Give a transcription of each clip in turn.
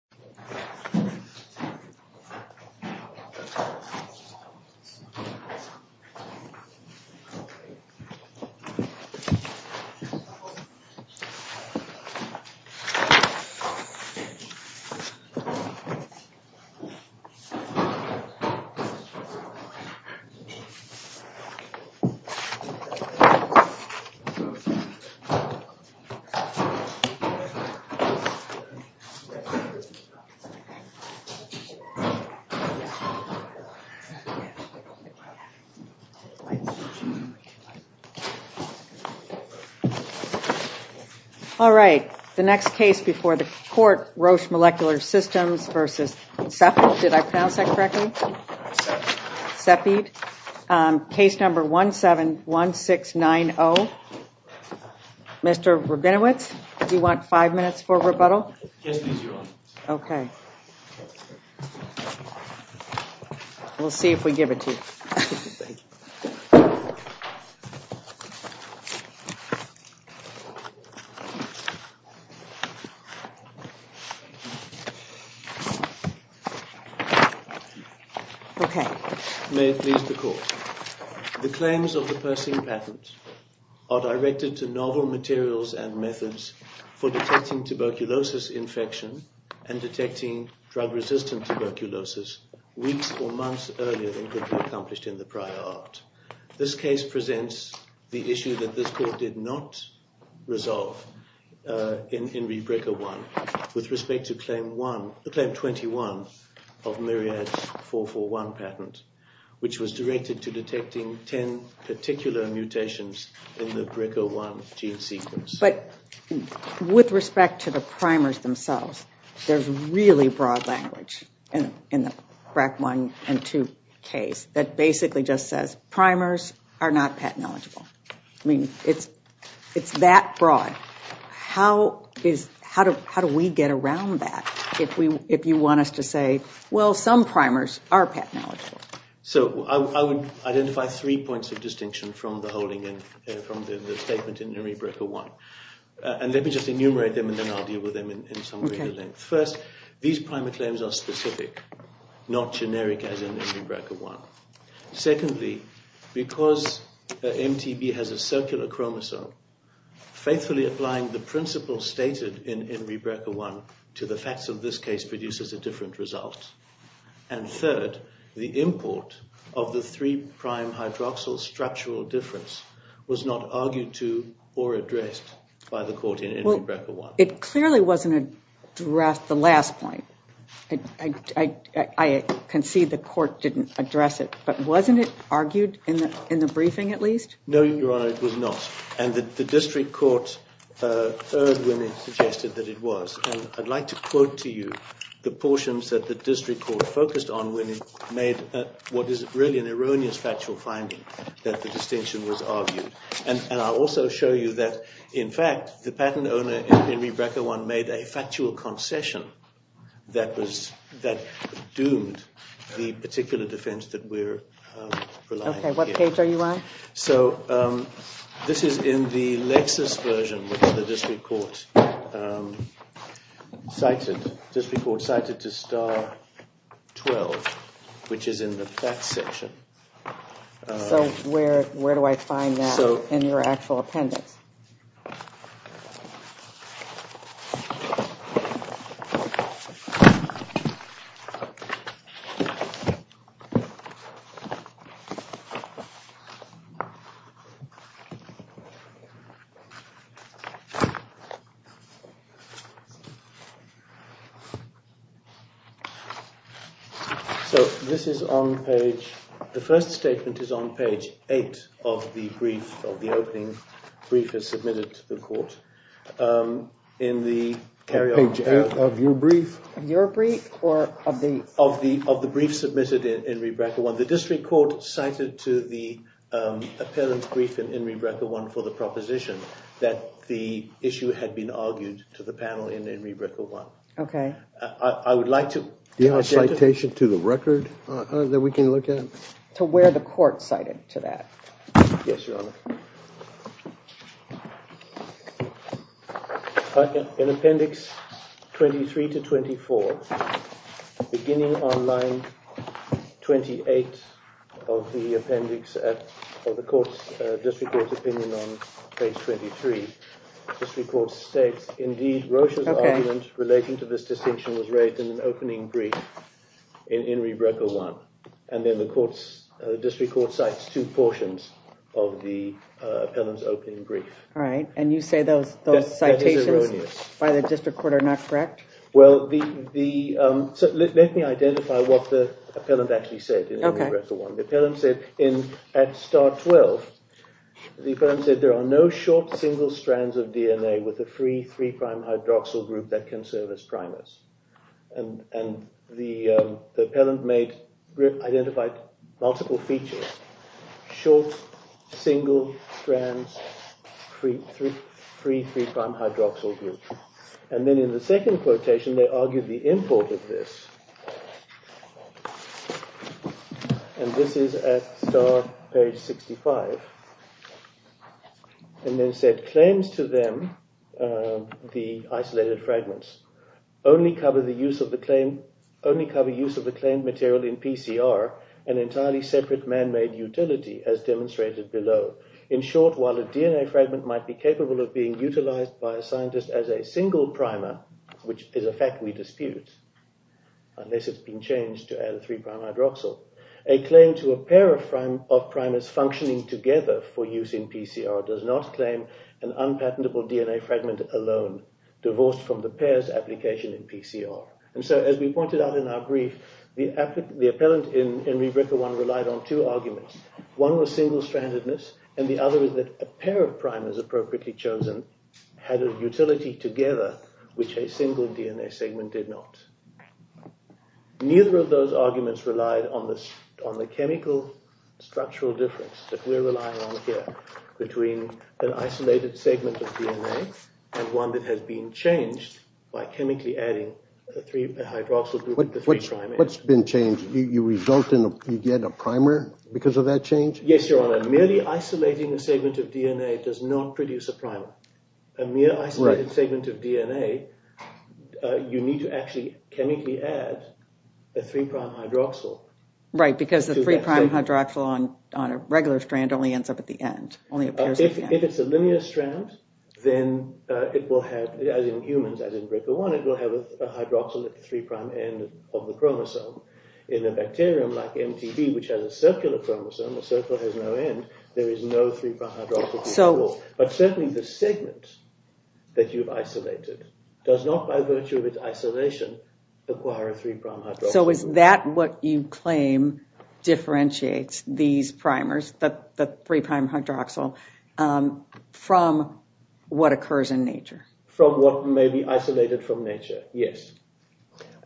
Cepheid is an acronym for Cepheid Molecular Systems, Inc. Case number 171690, Mr. Rabinowitz, do you want five minutes for rebuttal? Yes, please, Your Honor. Okay. We'll see if we give it to you. Thank you. Okay. May it please the Court. The claims of the Persing patent are directed to novel materials and methods for detecting tuberculosis infection and detecting drug-resistant tuberculosis weeks or months earlier than could be accomplished in the prior act. This case presents the issue that this Court did not resolve in Enri Brekker 1 with respect to Claim 21 of Myriad's 441 patent, which was directed to detecting 10 particular mutations in the Brekker 1 gene sequence. But with respect to the primers themselves, there's really broad language in the Brekker 1 and 2 case that basically just says primers are not patent-eligible. I mean, it's that broad. How do we get around that if you want us to say, well, some primers are patent-eligible? So I would identify three points of distinction from the statement in Enri Brekker 1. And let me just enumerate them, and then I'll deal with them in some greater length. First, these primer claims are specific, not generic as in Enri Brekker 1. Secondly, because MTB has a circular chromosome, faithfully applying the principle stated in Enri Brekker 1 to the facts of this case produces a different result. And third, the import of the three-prime hydroxyl structural difference was not argued to or addressed by the Court in Enri Brekker 1. Well, it clearly wasn't addressed at the last point. I concede the Court didn't address it, but wasn't it argued in the briefing at least? No, Your Honor, it was not. And the district court heard when it suggested that it was. And I'd like to quote to you the portions that the district court focused on when it made what is really an erroneous factual finding that the distinction was argued. And I'll also show you that, in fact, the patent owner in Enri Brekker 1 made a factual concession that doomed the particular defense that we're relying on. Okay, what page are you on? So this is in the Lexis version, which the district court cited to star 12, which is in the facts section. So where do I find that in your actual appendix? So this is on page – the first statement is on page 8 of the brief, of the opening brief that's submitted to the Court. In the carry-on. Page 8 of your brief? Of your brief, or of the – Of the brief submitted in Enri Brekker 1. The district court cited to the appellant's brief in Enri Brekker 1 for the proposition that the issue had been argued to the panel in Enri Brekker 1. Okay. I would like to – Do you have a citation to the record that we can look at? To where the court cited to that. Yes, Your Honor. Okay. In appendix 23 to 24, beginning on line 28 of the appendix of the court's – district court's opinion on page 23, the district court states, Indeed, Roche's argument relating to this distinction was raised in an opening brief in Enri Brekker 1. And then the district court cites two portions of the appellant's opening brief. All right, and you say those citations by the district court are not correct? Well, the – let me identify what the appellant actually said in Enri Brekker 1. The appellant said in – at star 12, the appellant said, There are no short single strands of DNA with a free three-prime hydroxyl group that can serve as primers. And the appellant made – identified multiple features. Short, single strands, free three-prime hydroxyl group. And then in the second quotation, they argued the import of this. And this is at star page 65. And then said, Claims to them, the isolated fragments, only cover the use of the claimed – only cover use of the claimed material in PCR, an entirely separate man-made utility, as demonstrated below. In short, while a DNA fragment might be capable of being utilized by a scientist as a single primer, which is a fact we dispute, unless it's been changed to add a three-prime hydroxyl, a claim to a pair of primers functioning together for use in PCR does not claim an unpatentable DNA fragment alone, divorced from the pair's application in PCR. And so, as we pointed out in our brief, the appellant in Enri Brekker 1 relied on two arguments. One was single-strandedness, and the other is that a pair of primers appropriately chosen had a utility together, which a single DNA segment did not. Neither of those arguments relied on the chemical structural difference that we're relying on here, between an isolated segment of DNA and one that has been changed by chemically adding a hydroxyl group to three primers. What's been changed? You result in – you get a primer because of that change? Yes, Your Honor. Merely isolating a segment of DNA does not produce a primer. A mere isolated segment of DNA, you need to actually chemically add a three-prime hydroxyl. Right, because the three-prime hydroxyl on a regular strand only ends up at the end. If it's a linear strand, then it will have – as in humans, as in Brekker 1 – it will have a hydroxyl at the three-prime end of the chromosome. In a bacterium like MTB, which has a circular chromosome, the circle has no end, there is no three-prime hydroxyl at all. But certainly the segment that you've isolated does not, by virtue of its isolation, acquire a three-prime hydroxyl. So is that what you claim differentiates these primers, the three-prime hydroxyl, from what occurs in nature? From what may be isolated from nature, yes.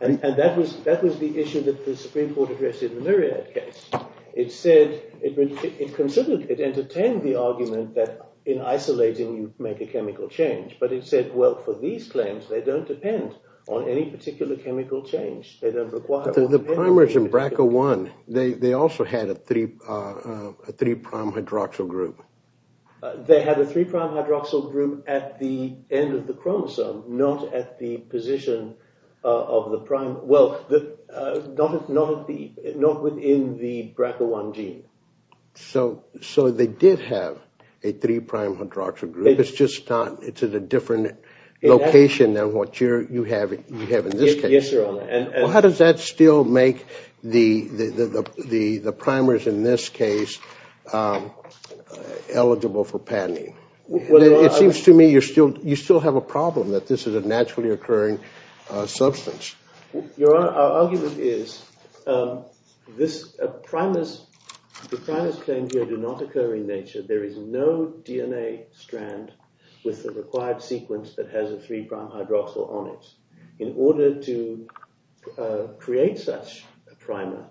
And that was the issue that the Supreme Court addressed in the Myriad case. It said – it considered – it entertained the argument that in isolating, you make a chemical change. But it said, well, for these claims, they don't depend on any particular chemical change. They don't require – But the primers in Brekker 1, they also had a three-prime hydroxyl group. They had a three-prime hydroxyl group at the end of the chromosome, not at the position of the prime – well, not within the Brekker 1 gene. So they did have a three-prime hydroxyl group. It's just not – it's at a different location than what you have in this case. Yes, Your Honor. Well, how does that still make the primers in this case eligible for patenting? It seems to me you still have a problem that this is a naturally occurring substance. Your Honor, our argument is this – primers – the primers claimed here do not occur in nature. There is no DNA strand with the required sequence that has a three-prime hydroxyl on it. In order to create such a primer,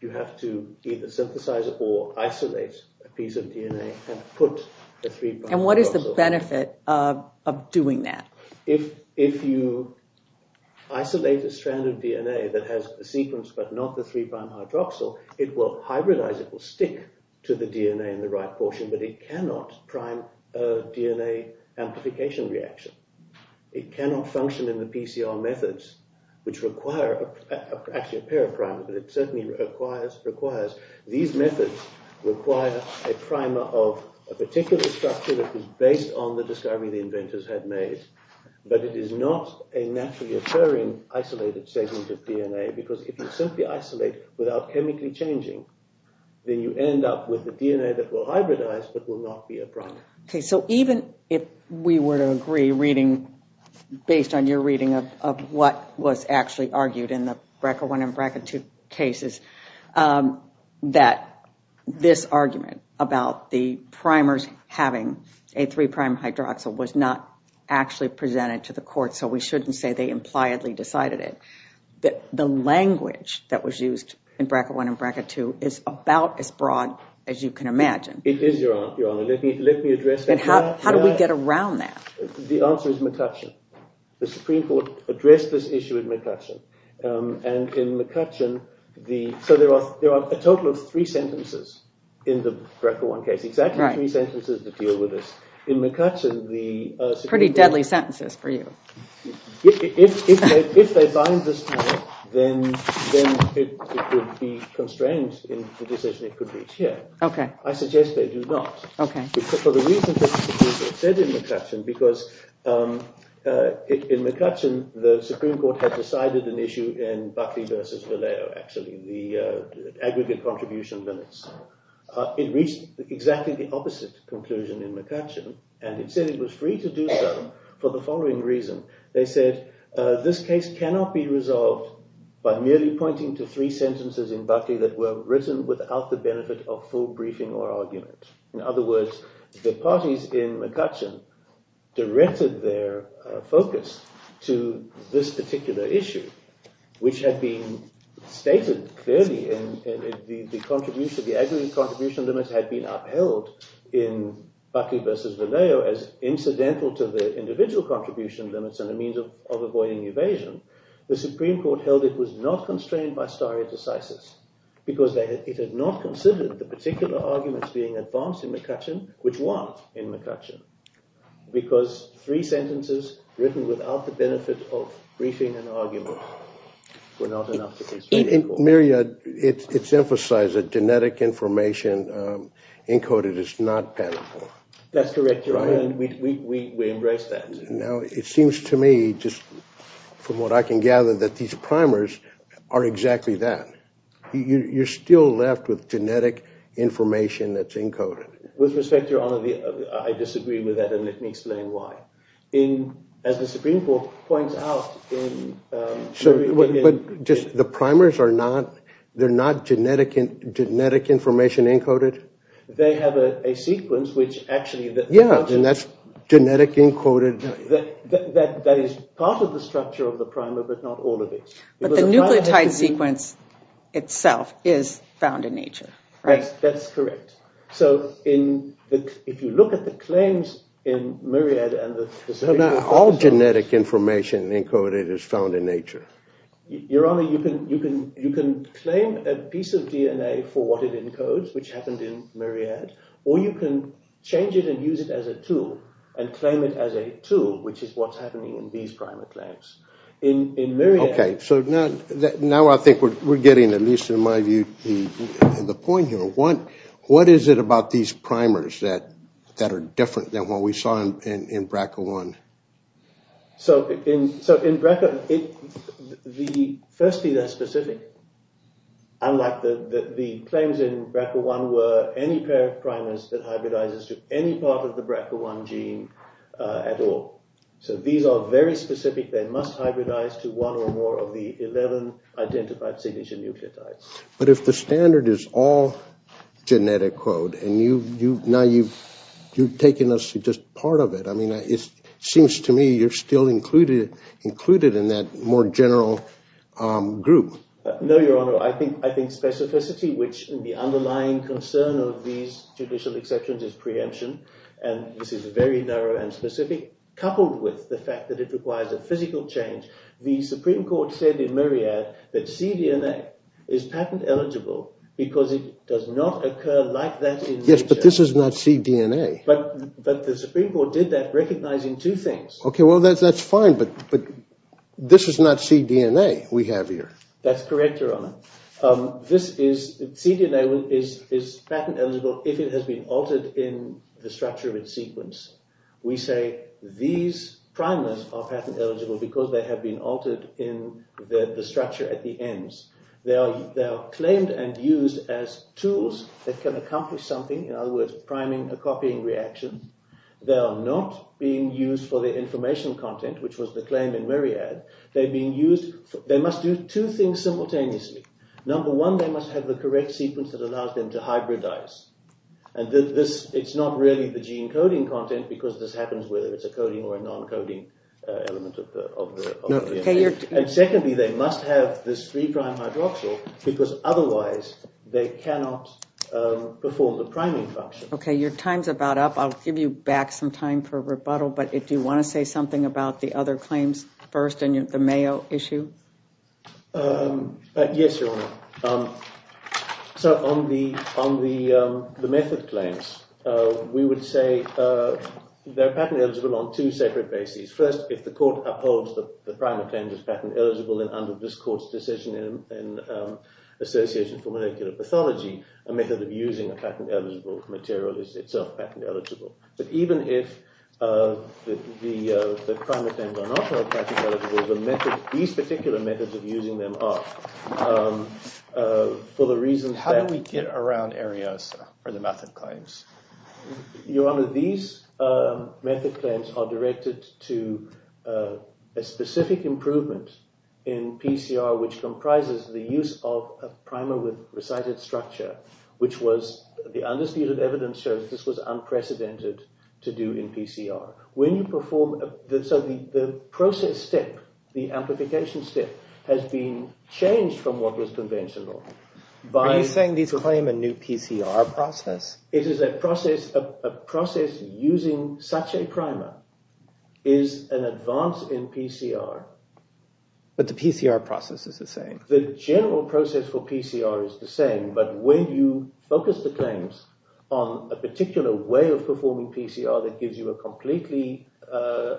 you have to either synthesize it or isolate a piece of DNA and put the three-prime hydroxyl. And what is the benefit of doing that? If you isolate a strand of DNA that has a sequence but not the three-prime hydroxyl, it will hybridize. It will stick to the DNA in the right portion, but it cannot prime a DNA amplification reaction. It cannot function in the PCR methods, which require – actually, a pair of primers, but it certainly requires – these methods require a primer of a particular structure that is based on the discovery the inventors had made. But it is not a naturally occurring isolated segment of DNA, because if you simply isolate without chemically changing, then you end up with a DNA that will hybridize but will not be a primer. Okay, so even if we were to agree, reading – based on your reading of what was actually argued in the BRCA1 and BRCA2 cases, that this argument about the primers having a three-prime hydroxyl was not actually presented to the court, so we shouldn't say they impliedly decided it. The language that was used in BRCA1 and BRCA2 is about as broad as you can imagine. It is, Your Honor. Let me address that. And how do we get around that? The answer is McCutcheon. The Supreme Court addressed this issue in McCutcheon. And in McCutcheon, the – so there are a total of three sentences in the BRCA1 case, exactly three sentences that deal with this. In McCutcheon, the Supreme Court – Pretty deadly sentences for you. If they bind this panel, then it would be constrained in the decision it could reach here. Okay. I suggest they do not. Okay. For the reasons that were said in McCutcheon, because in McCutcheon, the Supreme Court had decided an issue in Buckley v. Vallejo, actually, the aggregate contribution minutes. It reached exactly the opposite conclusion in McCutcheon, and it said it was free to do so for the following reason. They said this case cannot be resolved by merely pointing to three sentences in Buckley that were written without the benefit of full briefing or argument. In other words, the parties in McCutcheon directed their focus to this particular issue, which had been stated clearly. The aggregate contribution limits had been upheld in Buckley v. Vallejo as incidental to the individual contribution limits and a means of avoiding evasion. The Supreme Court held it was not constrained by stare decisis because it had not considered the particular arguments being advanced in McCutcheon, which won in McCutcheon, because three sentences written without the benefit of briefing and argument were not enough to constrain the court. Maria, it's emphasized that genetic information encoded is not panoply. That's correct, Your Honor, and we embrace that. Now, it seems to me, just from what I can gather, that these primers are exactly that. You're still left with genetic information that's encoded. With respect, Your Honor, I disagree with that, and let me explain why. As the Supreme Court points out in... But the primers are not genetic information encoded? They have a sequence which actually... Yeah, and that's genetic encoded... That is part of the structure of the primer, but not all of it. But the nucleotide sequence itself is found in nature, right? That's correct. So if you look at the claims in Muriad... All genetic information encoded is found in nature. Your Honor, you can claim a piece of DNA for what it encodes, which happened in Muriad, or you can change it and use it as a tool, and claim it as a tool, which is what's happening in these primer claims. Okay, so now I think we're getting, at least in my view, the point here. What is it about these primers that are different than what we saw in BRCA1? So in BRCA1, firstly, they're specific. Unlike the claims in BRCA1 were any pair of primers that hybridizes to any part of the BRCA1 gene at all. So these are very specific. They must hybridize to one or more of the 11 identified signature nucleotides. But if the standard is all genetic code, and now you've taken us to just part of it, I mean, it seems to me you're still included in that more general group. No, Your Honor. I think specificity, which the underlying concern of these judicial exceptions is preemption, and this is very narrow and specific, coupled with the fact that it requires a physical change. The Supreme Court said in Muriad that cDNA is patent eligible because it does not occur like that in nature. Yes, but this is not cDNA. But the Supreme Court did that recognizing two things. Okay, well, that's fine, but this is not cDNA we have here. That's correct, Your Honor. cDNA is patent eligible if it has been altered in the structure of its sequence. We say these primers are patent eligible because they have been altered in the structure at the ends. They are claimed and used as tools that can accomplish something, in other words, priming a copying reaction. They are not being used for the informational content, which was the claim in Muriad. They must do two things simultaneously. Number one, they must have the correct sequence that allows them to hybridize. And it's not really the gene coding content because this happens whether it's a coding or a non-coding element of the DNA. And secondly, they must have this three-prime hydroxyl because otherwise they cannot perform the priming function. Okay, your time's about up. I'll give you back some time for rebuttal, but do you want to say something about the other claims first and the Mayo issue? Yes, Your Honor. So on the method claims, we would say they're patent eligible on two separate bases. First, if the court upholds that the primer claim is patent eligible, then under this court's decision in Association for Molecular Pathology, a method of using a patent-eligible material is itself patent eligible. But even if the primer claims are not all patent eligible, these particular methods of using them are for the reason that— How do we get around Arioso or the method claims? Your Honor, these method claims are directed to a specific improvement in PCR, which comprises the use of a primer with recited structure, which was—the understated evidence shows this was unprecedented to do in PCR. When you perform—so the process step, the amplification step, has been changed from what was conventional by— Are you saying these claim a new PCR process? It is a process—a process using such a primer is an advance in PCR. But the PCR process is the same. The general process for PCR is the same, but when you focus the claims on a particular way of performing PCR that gives you a completely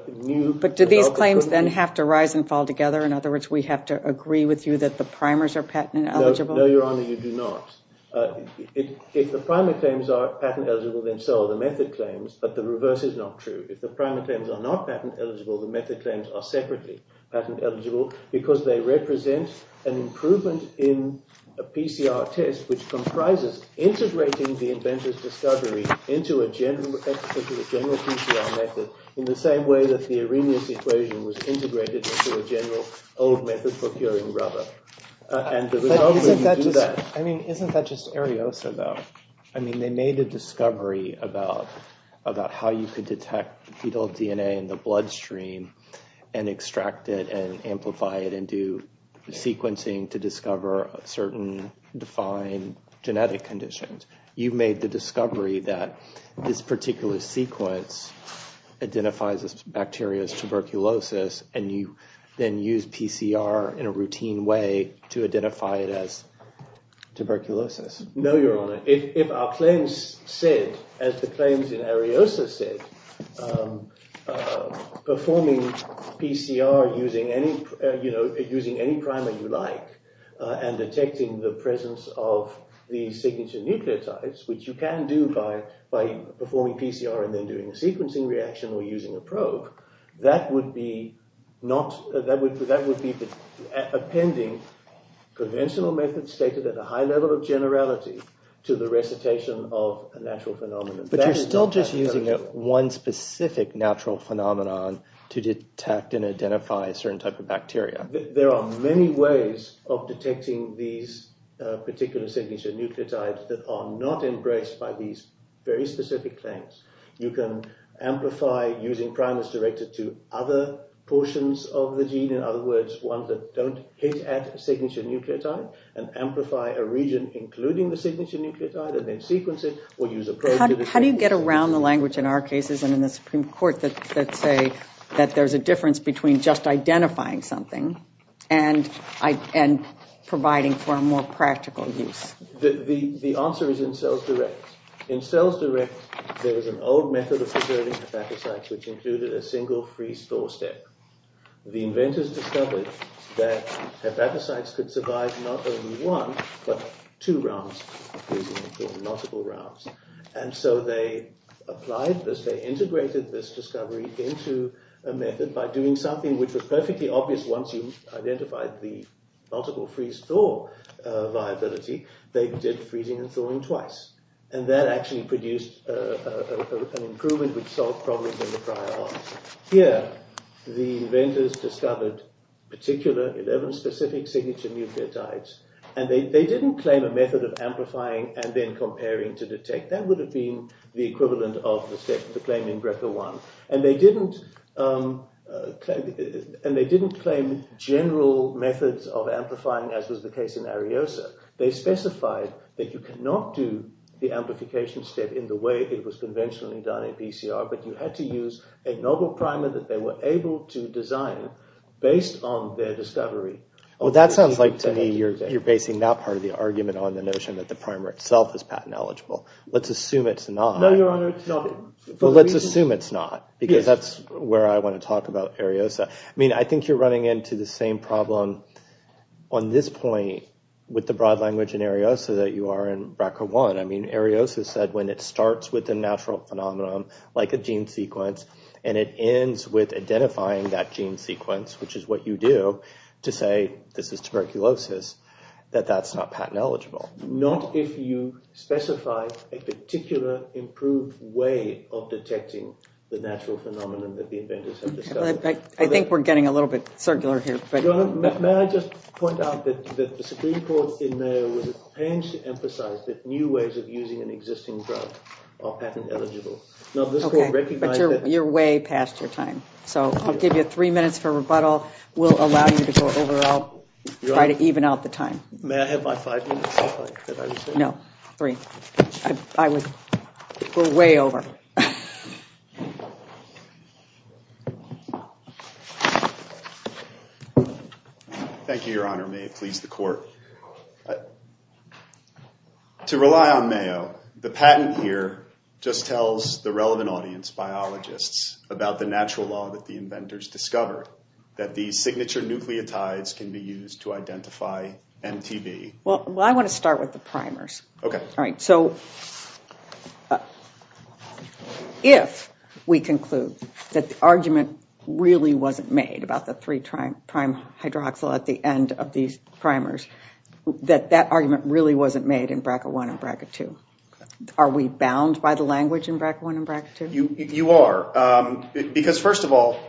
new— But do these claims then have to rise and fall together? In other words, we have to agree with you that the primers are patent eligible? No, Your Honor, you do not. If the primer claims are patent eligible, then so are the method claims, but the reverse is not true. If the primer claims are not patent eligible, the method claims are separately patent eligible, because they represent an improvement in a PCR test which comprises integrating the inventor's discovery into a general PCR method in the same way that the Arrhenius equation was integrated into a general old method for curing rubber. But isn't that just—I mean, isn't that just Ariosa, though? I mean, they made a discovery about how you could detect fetal DNA in the bloodstream and extract it and amplify it and do sequencing to discover certain defined genetic conditions. You made the discovery that this particular sequence identifies this bacteria as tuberculosis and you then use PCR in a routine way to identify it as tuberculosis. No, Your Honor. If our claims said, as the claims in Ariosa said, performing PCR using any primer you like and detecting the presence of the signature nucleotides, which you can do by performing PCR and then doing a sequencing reaction or using a probe, that would be appending conventional methods stated at a high level of generality to the recitation of a natural phenomenon. But you're still just using one specific natural phenomenon to detect and identify a certain type of bacteria. There are many ways of detecting these particular signature nucleotides that are not embraced by these very specific claims. You can amplify using primers directed to other portions of the gene, in other words, ones that don't hit at a signature nucleotide and amplify a region including the signature nucleotide and then sequence it or use a probe. How do you get around the language in our cases and in the Supreme Court that say that there's a difference between just identifying something and providing for a more practical use? The answer is in cells direct. In cells direct, there was an old method of preserving hepatocytes, which included a single freeze-thaw step. The inventors discovered that hepatocytes could survive not only one, but two rounds of freezing and thawing, multiple rounds. And so they applied this. They integrated this discovery into a method by doing something which was perfectly obvious once you identified the multiple freeze-thaw viability. They did freezing and thawing twice. And that actually produced an improvement which solved problems in the prior arms. Here, the inventors discovered particular 11 specific signature nucleotides. And they didn't claim a method of amplifying and then comparing to detect. That would have been the equivalent of the step to claiming BRCA1. And they didn't claim general methods of amplifying, as was the case in Ariosa. They specified that you cannot do the amplification step in the way it was conventionally done in PCR. But you had to use a novel primer that they were able to design based on their discovery. Well, that sounds like to me you're basing that part of the argument on the notion that the primer itself is patent eligible. Let's assume it's not. No, Your Honor, it's not. Well, let's assume it's not because that's where I want to talk about Ariosa. I mean, I think you're running into the same problem on this point with the broad language in Ariosa that you are in BRCA1. I mean, Ariosa said when it starts with a natural phenomenon, like a gene sequence, and it ends with identifying that gene sequence, which is what you do to say this is tuberculosis, that that's not patent eligible. Not if you specify a particular improved way of detecting the natural phenomenon that the inventors have discovered. Well, I think we're getting a little bit circular here. Your Honor, may I just point out that the Supreme Court in Mayo has changed to emphasize that new ways of using an existing drug are patent eligible. Okay, but you're way past your time. So I'll give you three minutes for rebuttal. We'll allow you to go over. I'll try to even out the time. May I have my five minutes? No, three. We're way over. Thank you, Your Honor. May it please the court. To rely on Mayo, the patent here just tells the relevant audience, biologists, about the natural law that the inventors discovered, that these signature nucleotides can be used to identify MTV. Well, I want to start with the primers. Okay. All right, so if we conclude that the argument really wasn't made about the three-prime hydroxyl at the end of these primers, that that argument really wasn't made in BRCA1 and BRCA2, are we bound by the language in BRCA1 and BRCA2? You are, because first of all,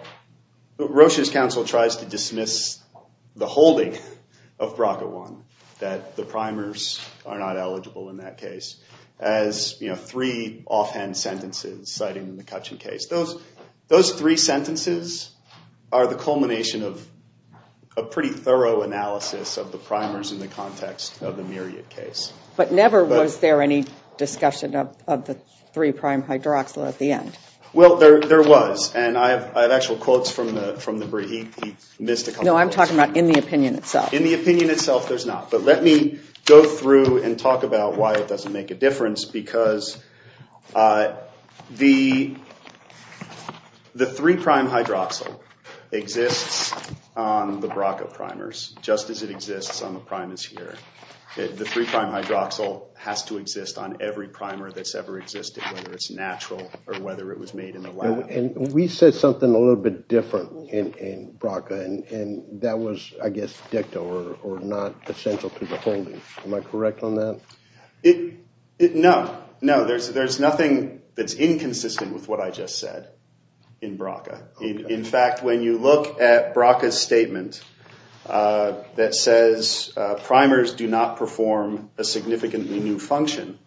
Rocha's counsel tries to dismiss the holding of BRCA1, that the primers are not eligible in that case, as three offhand sentences citing the McCutcheon case. Those three sentences are the culmination of a pretty thorough analysis of the primers in the context of the Myriad case. But never was there any discussion of the three-prime hydroxyl at the end. Well, there was, and I have actual quotes from the brief. He missed a couple of those. No, I'm talking about in the opinion itself. In the opinion itself, there's not. But let me go through and talk about why it doesn't make a difference, because the three-prime hydroxyl exists on the BRCA primers just as it exists on the primers here. The three-prime hydroxyl has to exist on every primer that's ever existed, whether it's natural or whether it was made in the lab. And we said something a little bit different in BRCA, and that was, I guess, dicta or not essential to the holding. Am I correct on that? No. No, there's nothing that's inconsistent with what I just said in BRCA. In fact, when you look at BRCA's statement that says primers do not perform a significantly new function,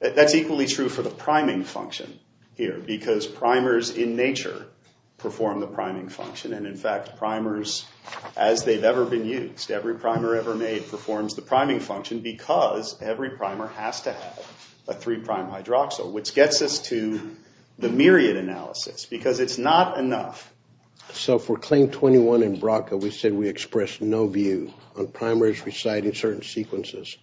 that's equally true for the priming function here, because primers in nature perform the priming function. And, in fact, primers, as they've ever been used, every primer ever made performs the priming function, because every primer has to have a three-prime hydroxyl, which gets us to the Myriad analysis, because it's not enough. So for Claim 21 in BRCA, we said we expressed no view on primers residing in certain sequences.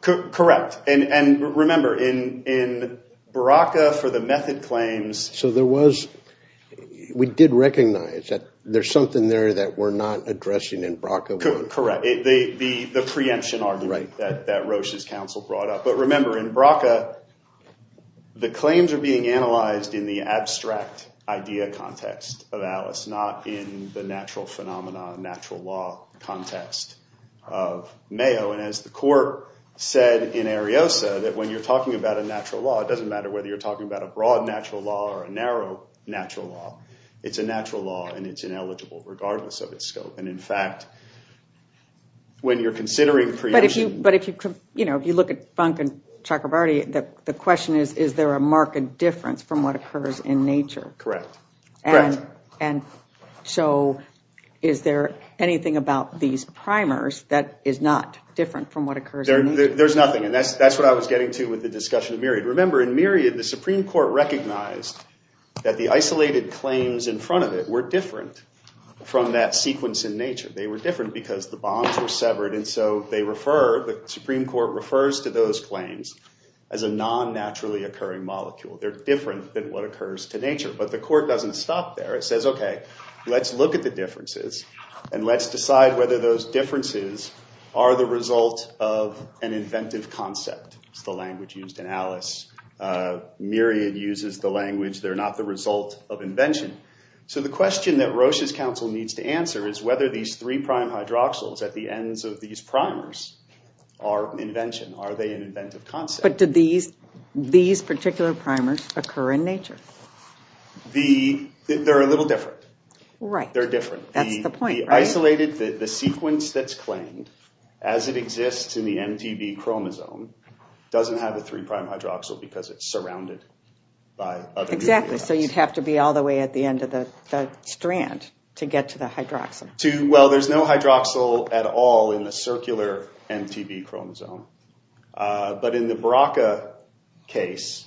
Correct. And remember, in BRCA for the method claims— So there was—we did recognize that there's something there that we're not addressing in BRCA. Correct. The preemption argument that Roche's counsel brought up. But remember, in BRCA, the claims are being analyzed in the abstract idea context of Alice, not in the natural phenomena, natural law context of Mayo. And as the court said in Ariosa, that when you're talking about a natural law, it doesn't matter whether you're talking about a broad natural law or a narrow natural law. It's a natural law, and it's ineligible regardless of its scope. And, in fact, when you're considering preemption— The question is, is there a marked difference from what occurs in nature? Correct. And so is there anything about these primers that is not different from what occurs in nature? There's nothing, and that's what I was getting to with the discussion of Myriad. Remember, in Myriad, the Supreme Court recognized that the isolated claims in front of it were different from that sequence in nature. They were different because the bonds were severed. And so they refer—the Supreme Court refers to those claims as a non-naturally occurring molecule. They're different than what occurs to nature. But the court doesn't stop there. It says, OK, let's look at the differences, and let's decide whether those differences are the result of an inventive concept. It's the language used in Alice. Myriad uses the language, they're not the result of invention. So the question that Roche's counsel needs to answer is whether these three-prime hydroxyls at the ends of these primers are invention. Are they an inventive concept? But did these particular primers occur in nature? They're a little different. Right. They're different. That's the point, right? The isolated—the sequence that's claimed as it exists in the MTB chromosome doesn't have a three-prime hydroxyl because it's surrounded by other nucleotides. Exactly. So you'd have to be all the way at the end of the strand to get to the hydroxyl. Well, there's no hydroxyl at all in the circular MTB chromosome. But in the BRCA case,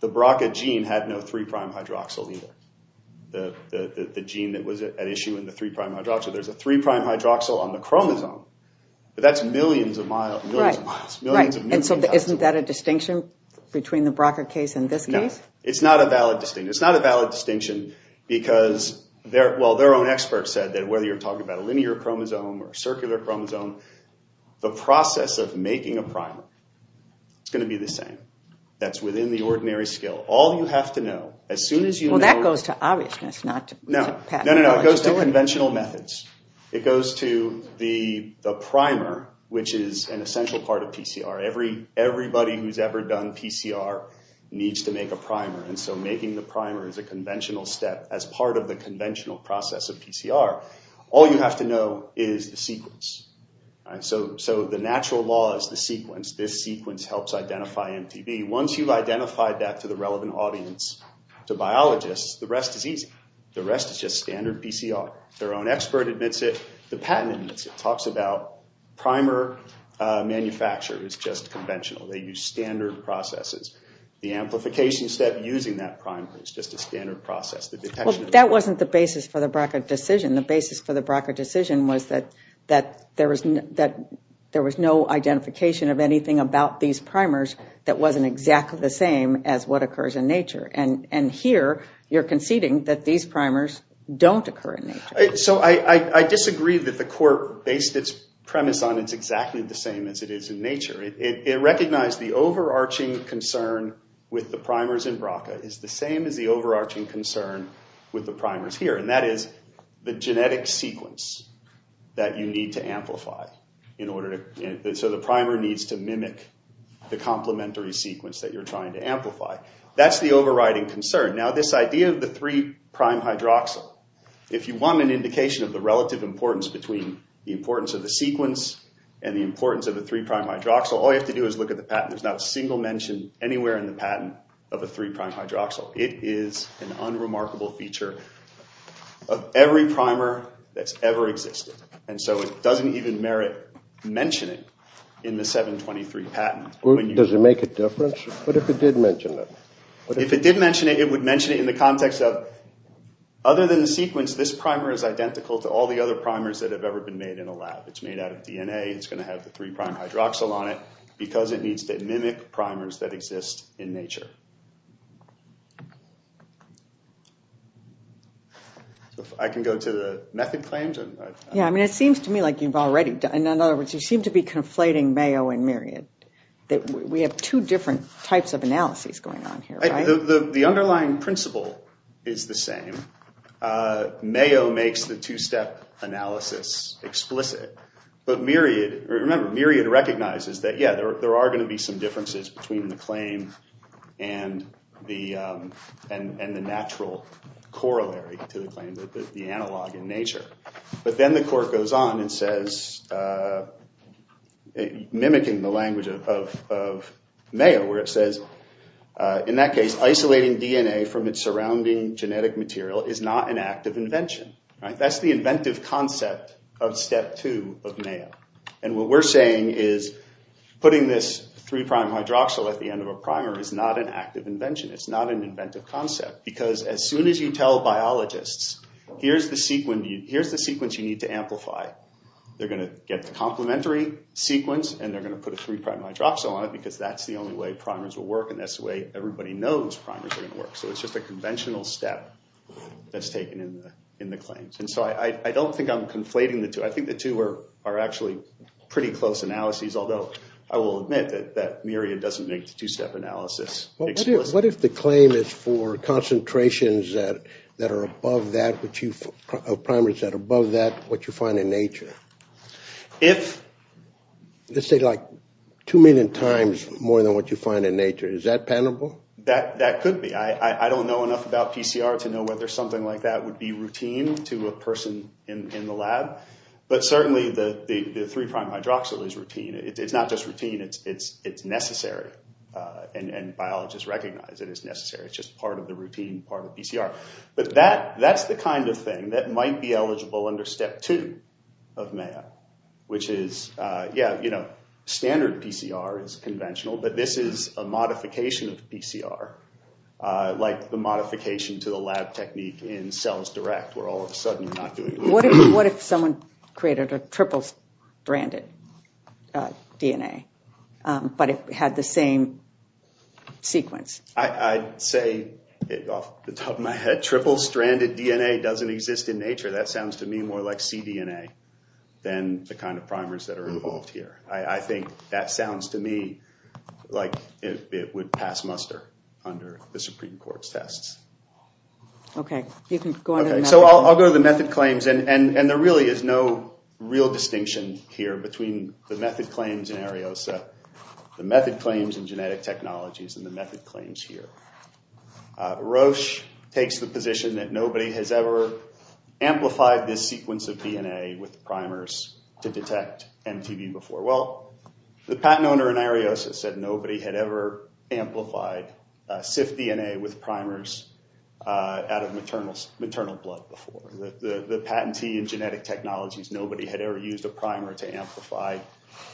the BRCA gene had no three-prime hydroxyl either, the gene that was at issue in the three-prime hydroxyl. There's a three-prime hydroxyl on the chromosome, but that's millions of miles. Right. And so isn't that a distinction between the BRCA case and this case? It's not a valid distinction. It's not a valid distinction because—well, their own experts said that whether you're talking about a linear chromosome or a circular chromosome, the process of making a primer is going to be the same. That's within the ordinary skill. All you have to know, as soon as you know— Well, that goes to obviousness, not to pathology. No, no, no. It goes to conventional methods. It goes to the primer, which is an essential part of PCR. Everybody who's ever done PCR needs to make a primer. And so making the primer is a conventional step as part of the conventional process of PCR. All you have to know is the sequence. So the natural law is the sequence. This sequence helps identify MTB. Once you've identified that to the relevant audience, to biologists, the rest is easy. The rest is just standard PCR. Their own expert admits it. The patent admits it. Primer manufacture is just conventional. They use standard processes. The amplification step using that primer is just a standard process. Well, that wasn't the basis for the BRCA decision. The basis for the BRCA decision was that there was no identification of anything about these primers that wasn't exactly the same as what occurs in nature. And here, you're conceding that these primers don't occur in nature. So I disagree that the court based its premise on it's exactly the same as it is in nature. It recognized the overarching concern with the primers in BRCA is the same as the overarching concern with the primers here. And that is the genetic sequence that you need to amplify. So the primer needs to mimic the complementary sequence that you're trying to amplify. That's the overriding concern. Now, this idea of the three-prime hydroxyl, if you want an indication of the relative importance between the importance of the sequence and the importance of the three-prime hydroxyl, all you have to do is look at the patent. There's not a single mention anywhere in the patent of a three-prime hydroxyl. It is an unremarkable feature of every primer that's ever existed. And so it doesn't even merit mentioning in the 723 patent. Does it make a difference? What if it did mention it? If it did mention it, it would mention it in the context of other than the sequence, this primer is identical to all the other primers that have ever been made in a lab. It's made out of DNA. It's going to have the three-prime hydroxyl on it because it needs to mimic primers that exist in nature. I can go to the method claims. It seems to me like you've already done it. In other words, you seem to be conflating Mayo and Myriad. We have two different types of analyses going on here. The underlying principle is the same. Mayo makes the two-step analysis explicit. Remember, Myriad recognizes that, yeah, there are going to be some differences between the claim and the natural corollary to the claim, the analog in nature. But then the court goes on and says, mimicking the language of Mayo, where it says, in that case, isolating DNA from its surrounding genetic material is not an act of invention. That's the inventive concept of step two of Mayo. And what we're saying is putting this three-prime hydroxyl at the end of a primer is not an act of invention. It's not an inventive concept because as soon as you tell biologists, here's the sequence you need to amplify, they're going to get the complementary sequence and they're going to put a three-prime hydroxyl on it because that's the only way primers will work and that's the way everybody knows primers are going to work. So it's just a conventional step that's taken in the claims. And so I don't think I'm conflating the two. I think the two are actually pretty close analyses, although I will admit that Myriad doesn't make the two-step analysis explicit. What if the claim is for concentrations that are above that, primers that are above that, what you find in nature? Let's say, like, two million times more than what you find in nature. Is that palatable? That could be. I don't know enough about PCR to know whether something like that would be routine to a person in the lab. But certainly the three-prime hydroxyl is routine. It's not just routine. It's necessary. And biologists recognize it is necessary. It's just part of the routine, part of PCR. But that's the kind of thing that might be eligible under step two of Mayo, which is, yeah, standard PCR is conventional, but this is a modification of PCR, like the modification to the lab technique in cells direct, where all of a sudden you're not doing it. What if someone created a triple-stranded DNA, but it had the same sequence? I'd say, off the top of my head, triple-stranded DNA doesn't exist in nature. That sounds to me more like cDNA than the kind of primers that are involved here. I think that sounds to me like it would pass muster under the Supreme Court's tests. Okay. So I'll go to the method claims. And there really is no real distinction here between the method claims in Areosa, the method claims in genetic technologies, and the method claims here. Roche takes the position that nobody has ever amplified this sequence of DNA with primers to detect MTB before. Well, the patent owner in Areosa said nobody had ever amplified SIF DNA with primers out of maternal blood before. The patentee in genetic technologies, nobody had ever used a primer to amplify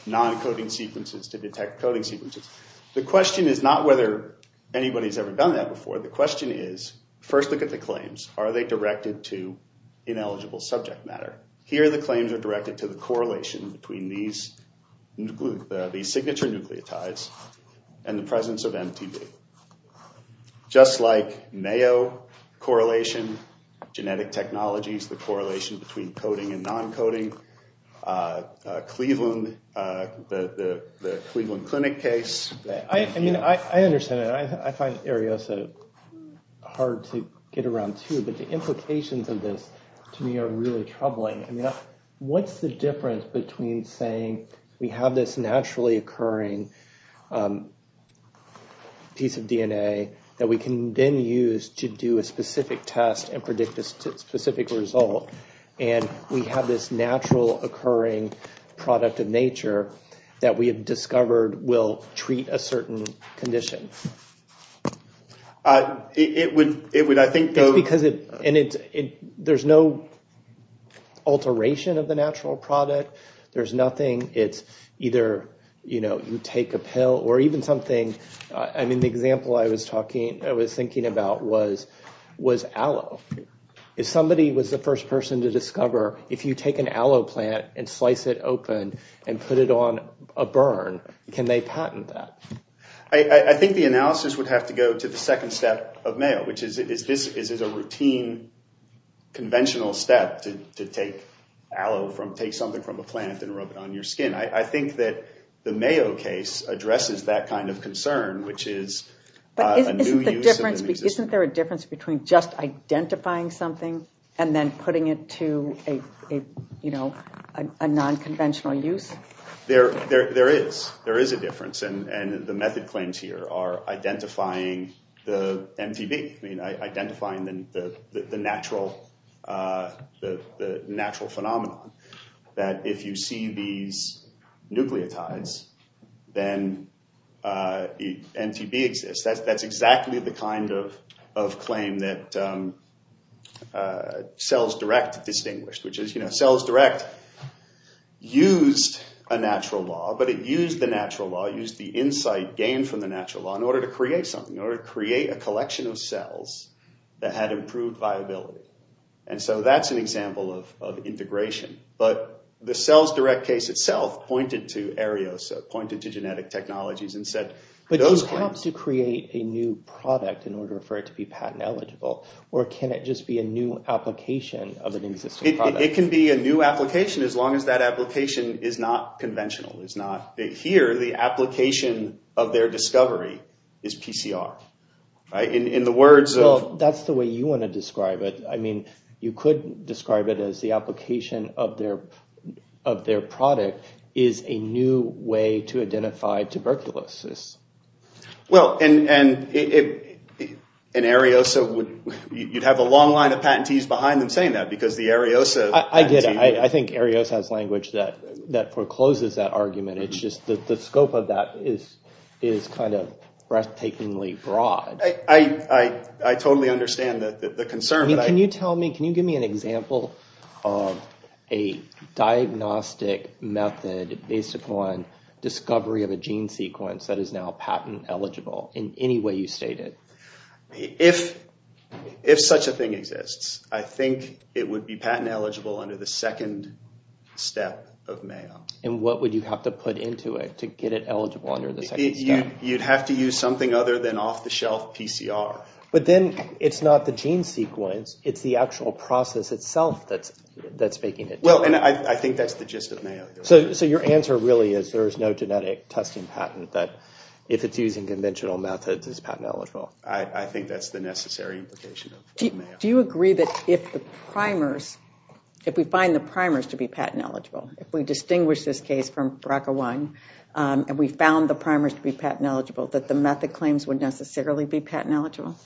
non-coding sequences to detect coding sequences. The question is not whether anybody has ever done that before. The question is, first look at the claims. Are they directed to ineligible subject matter? Here the claims are directed to the correlation between these signature nucleotides and the presence of MTB. Just like Mayo correlation, genetic technologies, the correlation between coding and non-coding, the Cleveland Clinic case. I mean, I understand that. I find Areosa hard to get around, too. But the implications of this to me are really troubling. I mean, what's the difference between saying we have this naturally occurring piece of DNA that we can then use to do a specific test and predict a specific result, and we have this natural occurring product of nature that we have discovered will treat a certain condition? It would, I think— It's because there's no alteration of the natural product. There's nothing. It's either you take a pill or even something. I mean, the example I was thinking about was aloe. If somebody was the first person to discover, if you take an aloe plant and slice it open and put it on a burn, can they patent that? I think the analysis would have to go to the second step of Mayo, which is this is a routine conventional step to take aloe from—take something from a plant and rub it on your skin. I think that the Mayo case addresses that kind of concern, which is a new use of an existing— Isn't there a difference between just identifying something and then putting it to a nonconventional use? There is. There is a difference, and the method claims here are identifying the MTB, identifying the natural phenomenon, that if you see these nucleotides, then MTB exists. That's exactly the kind of claim that CellsDirect distinguished, which is CellsDirect used a natural law, but it used the natural law, used the insight gained from the natural law, in order to create something, in order to create a collection of cells that had improved viability. And so that's an example of integration. But the CellsDirect case itself pointed to aerosol, pointed to genetic technologies and said— It helps to create a new product in order for it to be patent eligible, or can it just be a new application of an existing product? It can be a new application, as long as that application is not conventional, is not—here, the application of their discovery is PCR. In the words of— Well, that's the way you want to describe it. You could describe it as the application of their product is a new way to identify tuberculosis. Well, and Ariosa would—you'd have a long line of patentees behind them saying that, because the Ariosa— I did. I think Ariosa has language that forecloses that argument. It's just that the scope of that is kind of breathtakingly broad. I totally understand the concern, but I— Can you tell me—can you give me an example of a diagnostic method based upon discovery of a gene sequence that is now patent eligible in any way you state it? If such a thing exists, I think it would be patent eligible under the second step of Mayo. And what would you have to put into it to get it eligible under the second step? You'd have to use something other than off-the-shelf PCR. But then it's not the gene sequence, it's the actual process itself that's making it. Well, and I think that's the gist of Mayo. So your answer really is there is no genetic testing patent that, if it's used in conventional methods, is patent eligible? I think that's the necessary implication of Mayo. Do you agree that if the primers—if we find the primers to be patent eligible, if we distinguish this case from BRCA1, and we found the primers to be patent eligible, that the method claims would necessarily be patent eligible?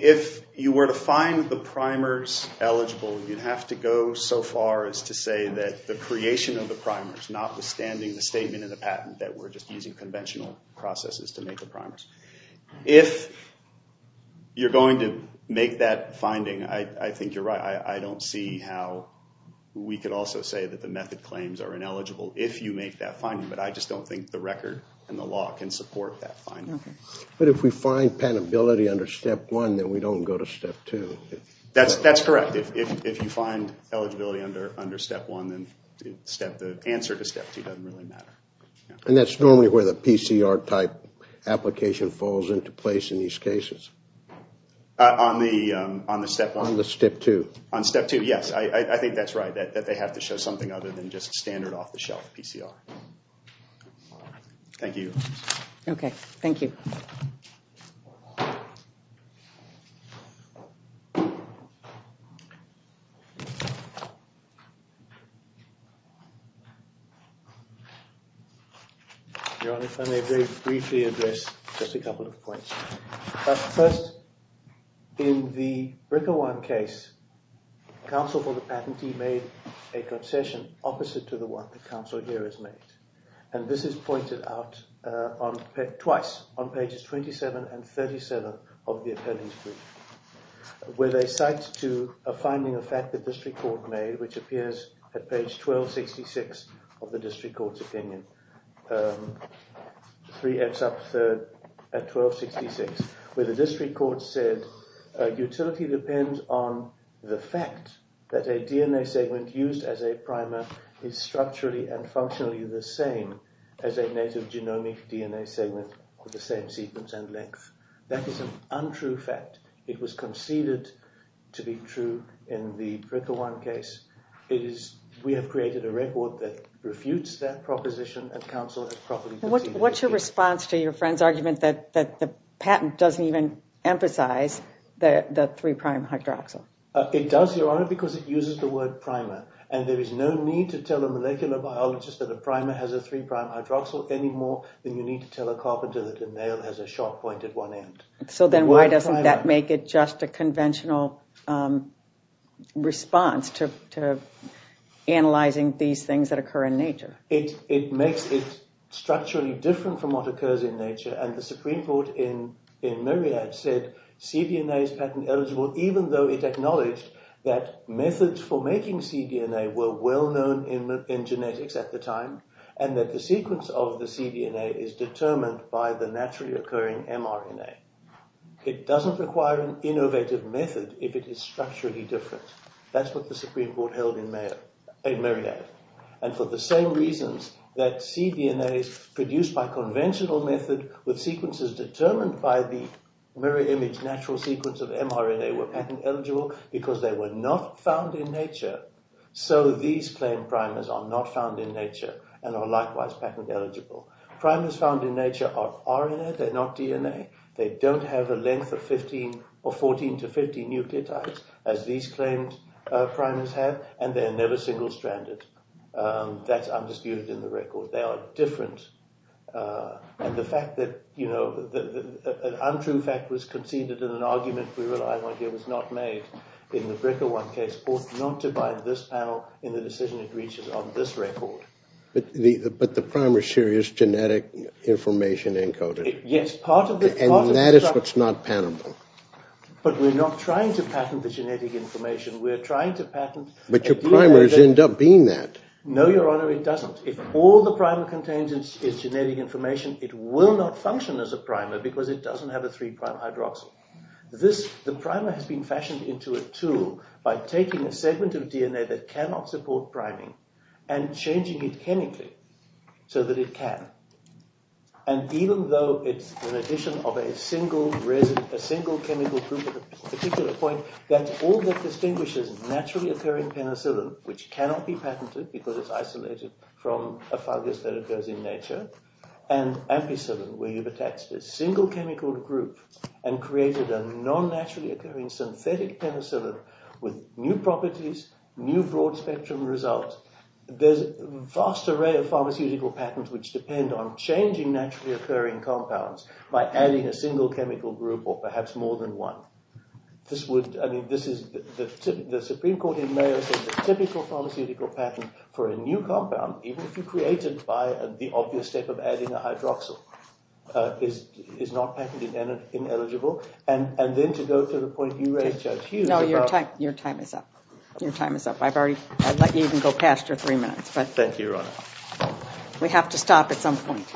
If you were to find the primers eligible, you'd have to go so far as to say that the creation of the primers, notwithstanding the statement in the patent that we're just using conventional processes to make the primers. If you're going to make that finding, I think you're right. I don't see how we could also say that the method claims are ineligible if you make that finding, but I just don't think the record and the law can support that finding. But if we find patentability under Step 1, then we don't go to Step 2. That's correct. If you find eligibility under Step 1, then the answer to Step 2 doesn't really matter. And that's normally where the PCR-type application falls into place in these cases? On the Step 1? On the Step 2. On Step 2, yes. I think that's right, that they have to show something other than just standard off-the-shelf PCR. Thank you. Okay, thank you. Your Honor, if I may briefly address just a couple of points. First, in the BRCA1 case, counsel for the patentee made a concession opposite to the one that counsel here has made. And this is pointed out twice, on pages 27 and 37 of the appellee's brief, where they cite to a finding of fact that district court made, which appears at page 1266 of the district court's opinion. 3x up third at 1266, where the district court said, utility depends on the fact that a DNA segment used as a primer is structurally and functionally the same as a native genomic DNA segment with the same sequence and length. That is an untrue fact. It was conceded to be true in the BRCA1 case. We have created a record that refutes that proposition, and counsel has properly conceded it. What's your response to your friend's argument that the patent doesn't even emphasize the 3' hydroxyl? It does, Your Honor, because it uses the word primer. And there is no need to tell a molecular biologist that a primer has a 3' hydroxyl anymore than you need to tell a carpenter that a nail has a sharp point at one end. So then why doesn't that make it just a conventional response to analyzing these things that occur in nature? It makes it structurally different from what occurs in nature, and the Supreme Court in Marriott said cDNA is patent eligible, even though it acknowledged that methods for making cDNA were well known in genetics at the time, and that the sequence of the cDNA is determined by the naturally occurring mRNA. It doesn't require an innovative method if it is structurally different. That's what the Supreme Court held in Marriott. And for the same reasons that cDNAs produced by conventional method with sequences determined by the mirror image natural sequence of mRNA were patent eligible because they were not found in nature, so these claimed primers are not found in nature and are likewise patent eligible. Primers found in nature are RNA, they're not DNA. They don't have a length of 14 to 15 nucleotides as these claimed primers have, and they're never single-stranded. That's undisputed in the record. They are different. And the fact that an untrue fact was conceded in an argument we rely on here was not made. In the BRCA1 case, not to bind this panel in the decision it reaches on this record. But the primer is genetic information encoded. Yes. And that is what's not patentable. But we're not trying to patent the genetic information. We're trying to patent the DNA. But your primers end up being that. No, Your Honor, it doesn't. If all the primer contains is genetic information, it will not function as a primer because it doesn't have a three-prime hydroxyl. The primer has been fashioned into a tool by taking a segment of DNA that cannot support priming and changing it chemically so that it can. And even though it's an addition of a single chemical group at a particular point, that's all that distinguishes naturally occurring penicillin, which cannot be patented because it's isolated from a fungus that occurs in nature, and ampicillin, where you've attached a single chemical group and created a non-naturally occurring synthetic penicillin with new properties, new broad-spectrum results, there's a vast array of pharmaceutical patents which depend on changing naturally occurring compounds by adding a single chemical group or perhaps more than one. This would, I mean, this is the Supreme Court in Mayo said the typical pharmaceutical patent for a new compound, even if you create it by the obvious step of adding a hydroxyl, is not patented and ineligible. And then to go to the point you raised, Judge Hughes. No, your time is up. Your time is up. I've already let you even go past your three minutes. Thank you, Your Honor. We have to stop at some point.